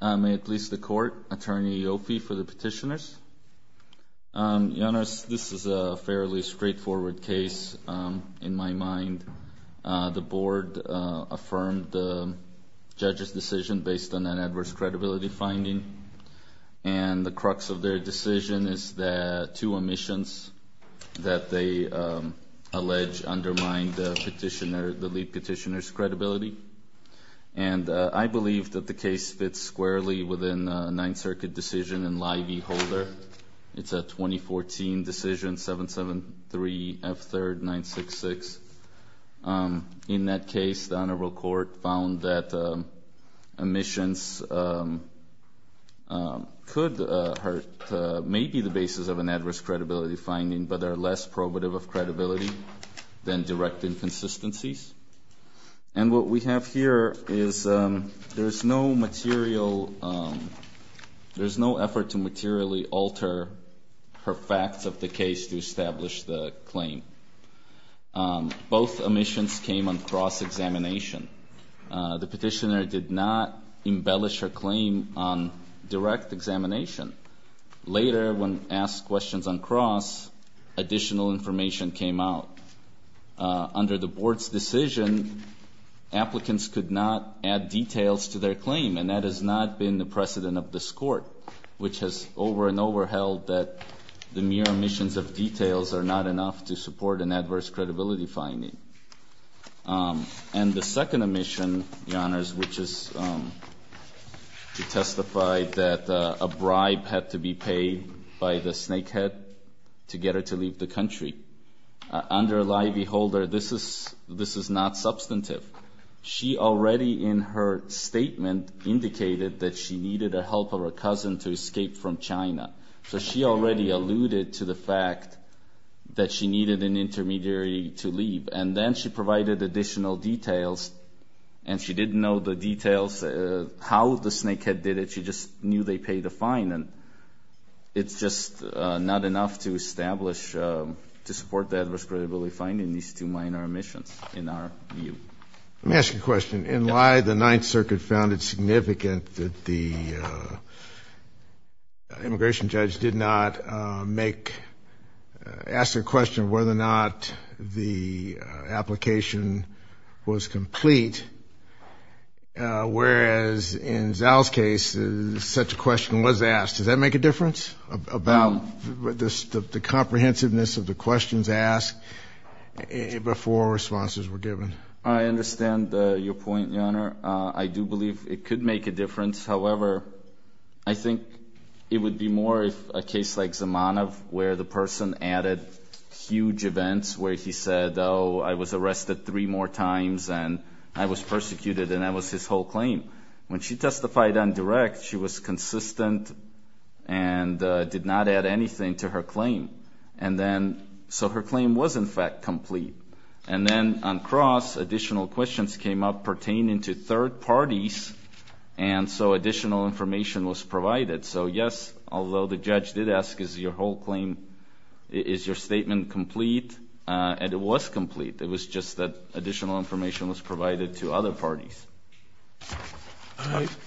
May it please the court. Attorney Yofi for the petitioners. Your Honor, this is a fairly straightforward case in my mind. The board affirmed the judge's decision based on that adverse credibility finding and the crux of their decision is that two omissions that they allege undermine the petitioner, the lead case fits squarely within a Ninth Circuit decision in Lye v. Holder. It's a 2014 decision 773 F3rd 966. In that case, the Honorable Court found that omissions could hurt maybe the basis of an adverse credibility finding but are less probative of credibility than direct inconsistencies. And what we have here is there's no material there's no effort to materially alter her facts of the case to establish the claim. Both omissions came on cross-examination. The petitioner did not embellish her claim on direct examination. Later when asked questions on cross, additional information came out. Under the board's decision, applicants could not add details to their claim and that has not been the precedent of this court which has over and over held that the mere omissions of details are not enough to support an adverse credibility finding. And the second omission, Your Honors, which is to testify that a bribe had to be paid by the snakehead to get her to leave the country. Under Lye v. Holder, this is not substantive. She already in her statement indicated that she needed the help of her cousin to escape from China. So she already alluded to the fact that she needed an intermediary to leave. And then she provided additional details and she didn't know the details how the snakehead did it. She just knew they paid a fine and it's just not enough to establish to support the adverse credibility finding these two minor omissions in our view. Let me ask you a question. In Lye, the Ninth Circuit found it significant that the immigration judge did not make, ask a question whether or not the application was complete. Whereas in Zal's case, such a question was asked. Does that make a difference? Do you think it would make a difference? I think it would be more if a case like Zamanov, where the person added huge events, where he said, oh, I was arrested three more times and I was persecuted. And that was his whole claim. When she testified on direct, she was consistent and did not add anything to her claim. And then, so her claim was in fact complete. And then on cross, additional questions came up pertaining to third parties. And so additional information was provided. So yes, although the judge did ask, is your whole claim, is your statement complete? And it was complete. It was just that additional information was provided to other parties.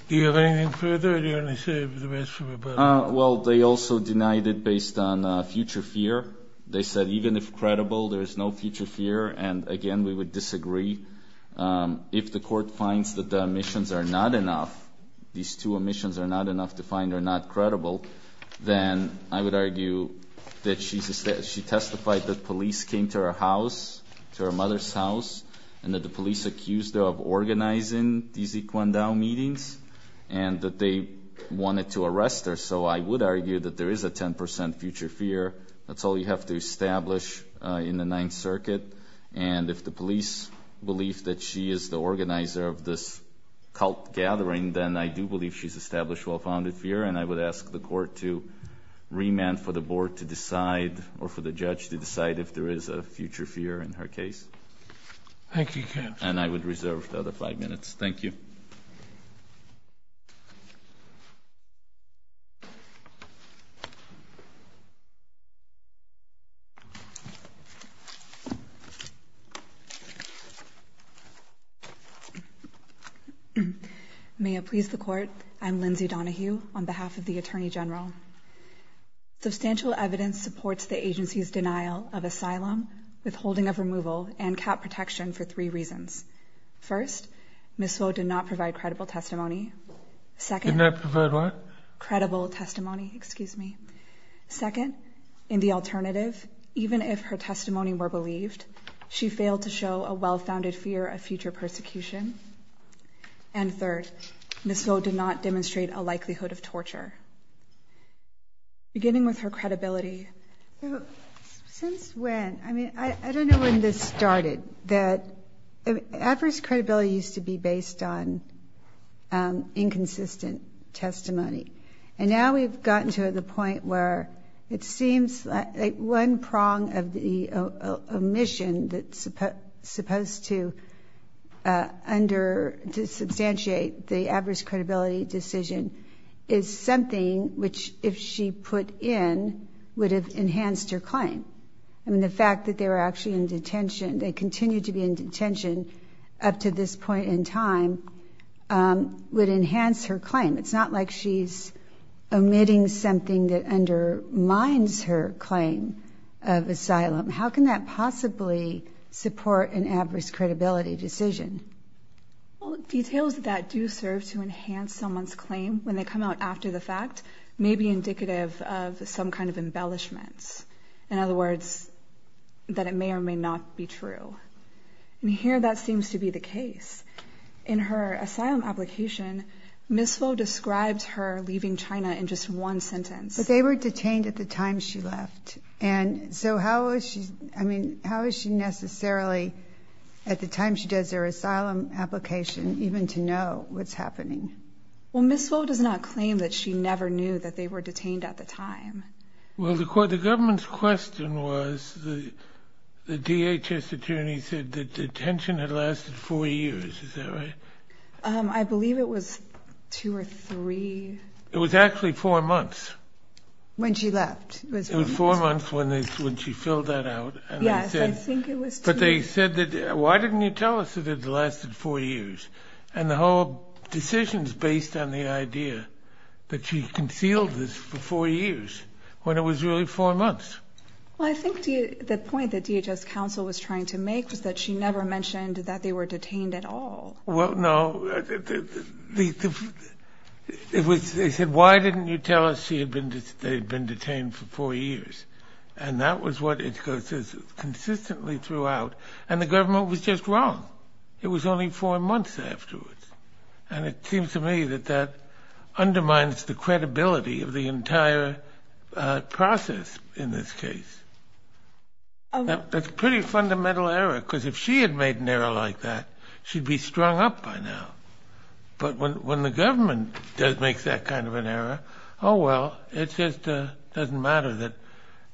Do you have anything further or do you only say the rest of it? Well, they also denied it based on future fear. They said, even if credible, there is no future fear. And again, we would disagree. If the court finds that the omissions are not enough, these two omissions are not enough to find are not credible, then I would argue that she testified that police came to her house, to her mother's house, and that the police accused her of organizing these So I would argue that there is a 10% future fear. That's all you have to establish in the Ninth Circuit. And if the police believe that she is the organizer of this cult gathering, then I do believe she's established well-founded fear. And I would ask the court to remand for the board to decide, or for the judge to decide, if there is a future fear in her case. Thank you, counsel. And I would reserve the other five minutes. Thank you. May it please the court, I'm Lindsay Donahue on behalf of the Attorney General. Substantial evidence supports the agency's denial of asylum, withholding of removal, and cap protection for three reasons. First, Ms. Swo did not provide credible testimony. Second, in the alternative, even if her testimony were believed, she failed to show a well-founded fear of future persecution. And third, Ms. Swo did not demonstrate a likelihood of torture. Beginning with her credibility, since when, I mean I don't know when this was, inconsistent testimony. And now we've gotten to the point where it seems like one prong of the omission that's supposed to under, to substantiate the adverse credibility decision is something which, if she put in, would have enhanced her claim. I mean, the fact that they were actually in detention, they continued to be in detention up to this point in time, would enhance her claim. It's not like she's omitting something that undermines her claim of asylum. How can that possibly support an adverse credibility decision? Well, details that do serve to enhance someone's claim, when they come out after the fact, may be indicative of some kind of embellishments. In other And here that seems to be the case. In her asylum application, Ms. Swo describes her leaving China in just one sentence. But they were detained at the time she left. And so how is she, I mean, how is she necessarily, at the time she does their asylum application, even to know what's happening? Well, Ms. Swo does not claim that she never knew that they were detained at the time. Well, the government's question was, the DHS attorney said that the detention had lasted four years. Is that right? I believe it was two or three. It was actually four months. When she left. It was four months when she filled that out. Yes, I think it was. But they said that, why didn't you tell us it had lasted four years? And the whole decision's based on the idea that she Well, I think the point that DHS counsel was trying to make was that she never mentioned that they were detained at all. Well, no. They said, why didn't you tell us they had been detained for four years? And that was what it says consistently throughout. And the government was just wrong. It was only four months afterwards. And it seems to me that that undermines the credibility of the entire process in this case. That's a pretty fundamental error, because if she had made an error like that, she'd be strung up by now. But when the government does make that kind of an error, oh, well, it's just doesn't matter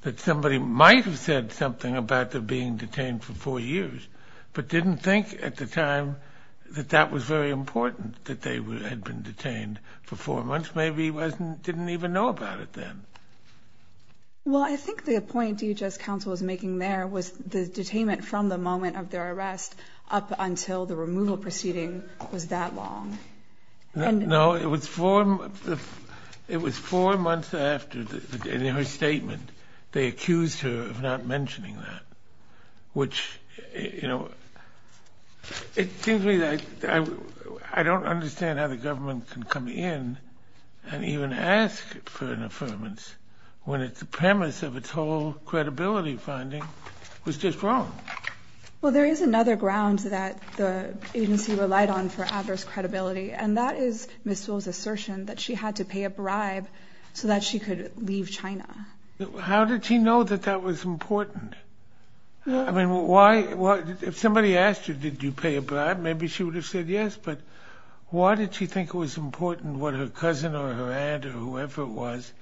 that somebody might have said something about them being detained for four years, but didn't think at the time that that was very even know about it then. Well, I think the point DHS counsel was making there was the detainment from the moment of their arrest up until the removal proceeding was that long. No, it was four. It was four months after her statement. They accused her of not mentioning that, which, you know, it seems to me that I don't understand how the government can come in and even ask for an affirmance when it's the premise of its whole credibility finding was just wrong. Well, there is another ground that the agency relied on for adverse credibility, and that is Ms. Sewell's assertion that she had to pay a bribe so that she could leave China. How did she know that that was important? I mean, why? If somebody asked you, did you pay a bribe? Maybe she would have said yes. But why did she think it was important what her aunt or whoever it was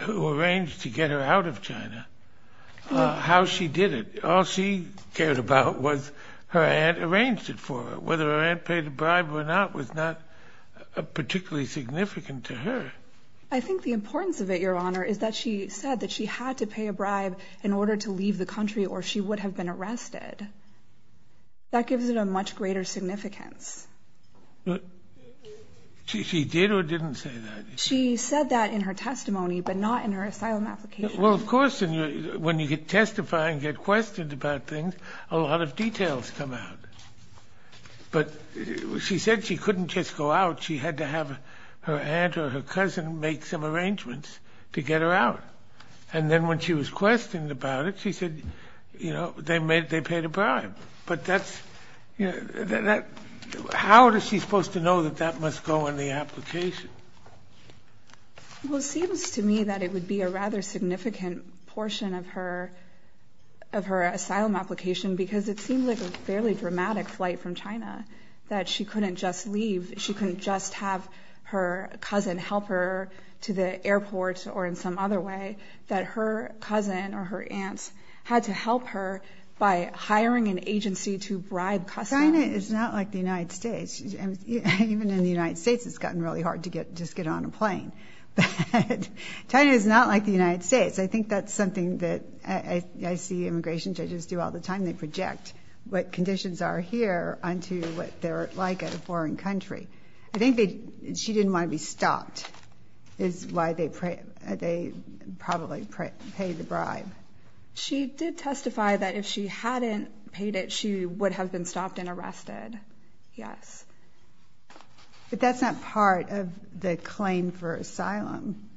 who arranged to get her out of China, how she did it? All she cared about was her aunt arranged it for her. Whether her aunt paid a bribe or not was not particularly significant to her. I think the importance of it, Your Honor, is that she said that she had to pay a bribe in order to leave the country or she would have been arrested. That gives it a much greater significance. She did or didn't say that? She said that in her testimony, but not in her asylum application. Well, of course, when you testify and get questioned about things, a lot of details come out. But she said she couldn't just go out. She had to have her aunt or her cousin make some arrangements to get her out. And then when she was questioned about it, she said, you know, they made, they paid a bribe. But that's, you know, how is she supposed to know that that must go in the application? Well, it seems to me that it would be a rather significant portion of her, of her asylum application because it seemed like a fairly dramatic flight from China that she couldn't just leave. She couldn't just have her cousin help her to the airport or in some other way that her cousin or her aunts had to help her by hiring an agency to bribe customers. China is not like the United States. Even in the United States, it's gotten really hard to get, just get on a plane. China is not like the United States. I think that's something that I see immigration judges do all the time. They project what conditions are here onto what they're like in a foreign country. I think she didn't want to be stopped is why they probably paid the bribe. She did yes. But that's not part of the claim for asylum.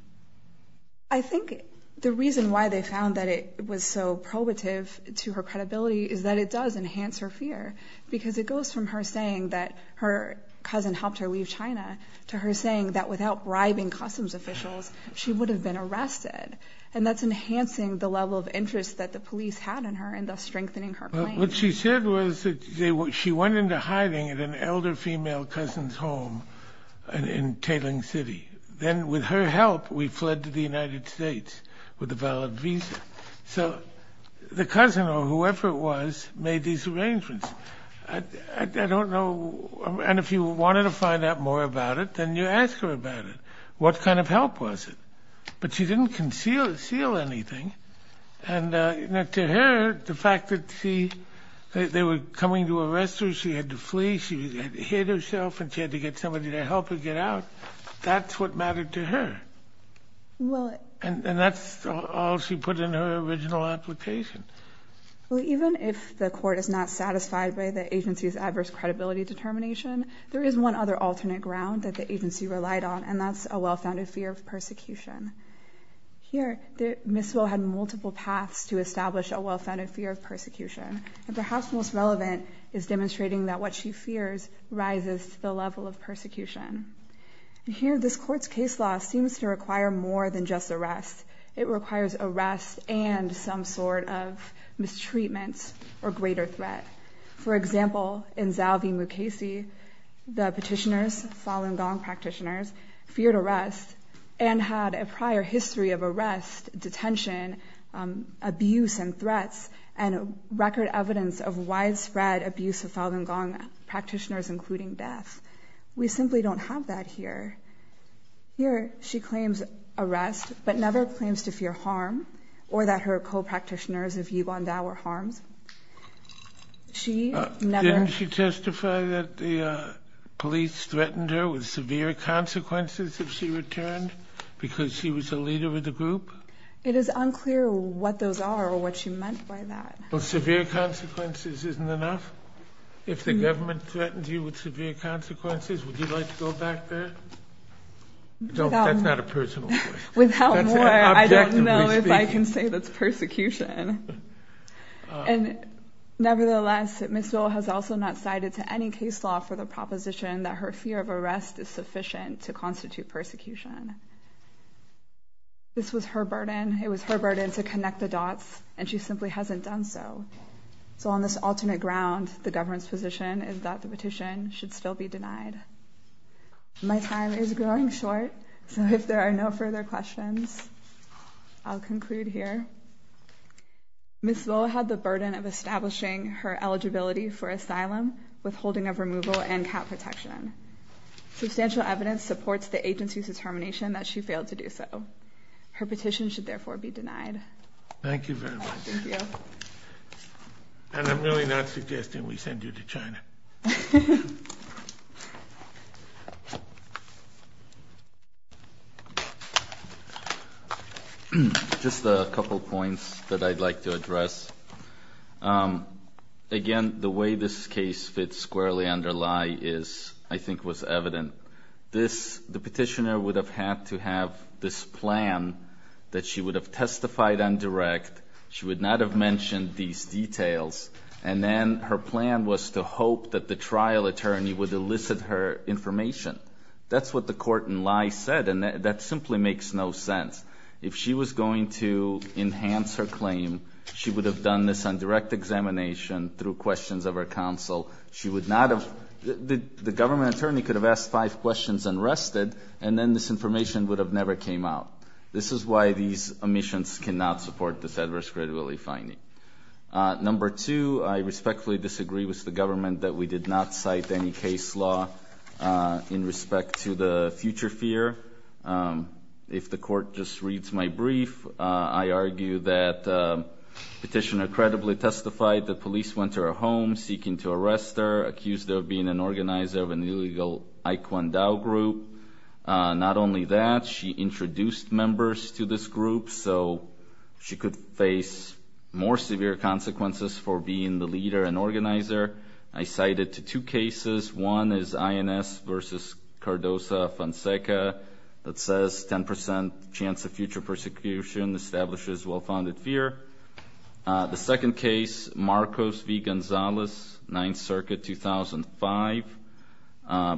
I think the reason why they found that it was so probative to her credibility is that it does enhance her fear because it goes from her saying that her cousin helped her leave China to her saying that without bribing customs officials, she would have been arrested. And that's enhancing the level of interest that the police had in her and thus strengthening her claim. What she said was that she went into hiding at an elder female cousin's home in Tailing City. Then with her help, we fled to the United States with a valid visa. So the cousin or whoever it was made these arrangements. I don't know, and if you wanted to find out more about it, then you ask her about it. What kind of help was it? But she didn't conceal anything. And to her, the fact that they were coming to arrest her, she had to flee, she hid herself, and she had to get somebody to help her get out. That's what mattered to her. And that's all she put in her original application. Even if the court is not satisfied by the agency's adverse credibility determination, there is one other alternate ground that the agency relied on, and that's a well-founded fear of persecution. Here, Ms. Wo had multiple paths to establish a well-founded fear of persecution. And perhaps most relevant is demonstrating that what she fears rises to the level of persecution. Here, this court's case law seems to require more than just arrest. It requires arrest and some sort of mistreatment or greater threat. For example, in Zalvi Mukhesi, the Anne had a prior history of arrest, detention, abuse and threats, and record evidence of widespread abuse of Falun Gong practitioners, including death. We simply don't have that here. Here, she claims arrest, but never claims to fear harm, or that her co-practitioners of Yiguan Dao were harmed. She never... Didn't she testify that the police threatened her with severe consequences if she returned, because she was a leader of the group? It is unclear what those are, or what she meant by that. Well, severe consequences isn't enough? If the government threatens you with severe consequences, would you like to go back there? That's not a personal choice. Without more, I don't know if I can say that's persecution. And nevertheless, Ms. Wo has also not sided to any case law for the persecution. This was her burden. It was her burden to connect the dots, and she simply hasn't done so. So on this alternate ground, the government's position is that the petition should still be denied. My time is growing short, so if there are no further questions, I'll conclude here. Ms. Wo had the burden of establishing her eligibility for asylum, withholding of removal, and cap protection. Substantial evidence supports the agency's determination that she failed to do so. Her petition should, therefore, be denied. Thank you very much. Thank you. And I'm really not suggesting we send you to China. Just a couple of points that I'd like to address. Again, the way this case fits squarely under Lai is, I think, was evident. The petitioner would have had to have this plan that she would have testified indirect, she would not have mentioned these details, and then her plan was to hope that the trial attorney would elicit her information. That's what the court in Lai said, and that simply makes no sense. If she was going to enhance her claim, she would have done this on direct examination, through questions of her counsel. She would not have, the government attorney could have asked five questions and rested, and then this information would have never came out. This is why these omissions cannot support this adverse credibility finding. Number two, I respectfully disagree with the government that we did not cite any case law in respect to the future fear. If the court just reads my brief, I argue that petitioner credibly testified that police went to her home seeking to arrest her, accused her of being an organizer of an illegal Ai Kuan Dao group. Not only that, she introduced members to this group, so she could face more severe consequences for being the leader and organizer. I cite it to two cases. One is INS versus Cardoza-Fonseca that says 10% chance of future persecution establishes well-founded fear. The second case, Marcos v. Gonzalez, 9th Circuit, 2005.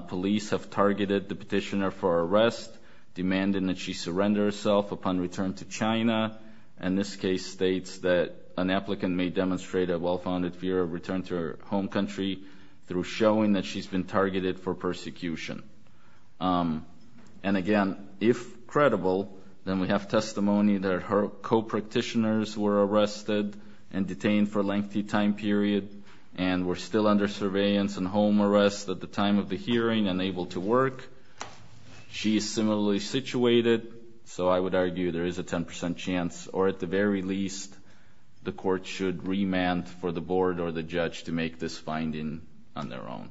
Police have targeted the petitioner for arrest, demanding that she surrender herself upon return to China, and this case states that an applicant may demonstrate a well-founded fear of return to her home country through showing that she's been targeted for persecution. And again, if credible, then we have testimony that her co-practitioners were arrested and detained for a lengthy time period and were still under surveillance and home arrest at the time of the hearing and able to work. She is similarly situated, so I would argue there is a 10% chance, or at the very least, the court should remand for the board or the judge to make this finding on their own.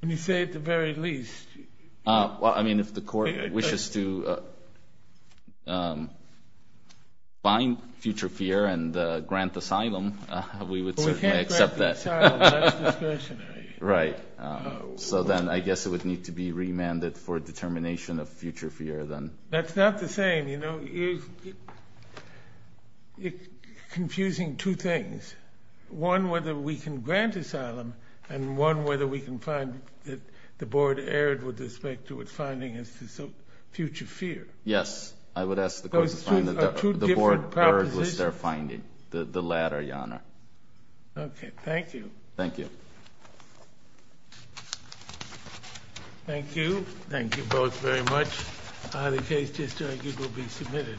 When you say at the very least? Well, I mean, if the court wishes to find future fear and grant asylum, we would certainly accept that. Well, we can't grant asylum without discretionary. Right. So then I guess it would need to be remanded for determination of future fear, then. That's not the same, you know. You're confusing two things. One, whether we can grant asylum, and one, whether we can find that the board erred with respect to its finding as to future fear. Yes. I would ask the court to find that the board erred with their finding, the latter, Your Honor. Okay. Thank you. Thank you. Thank you. Thank you both very much. The case just argued will be submitted.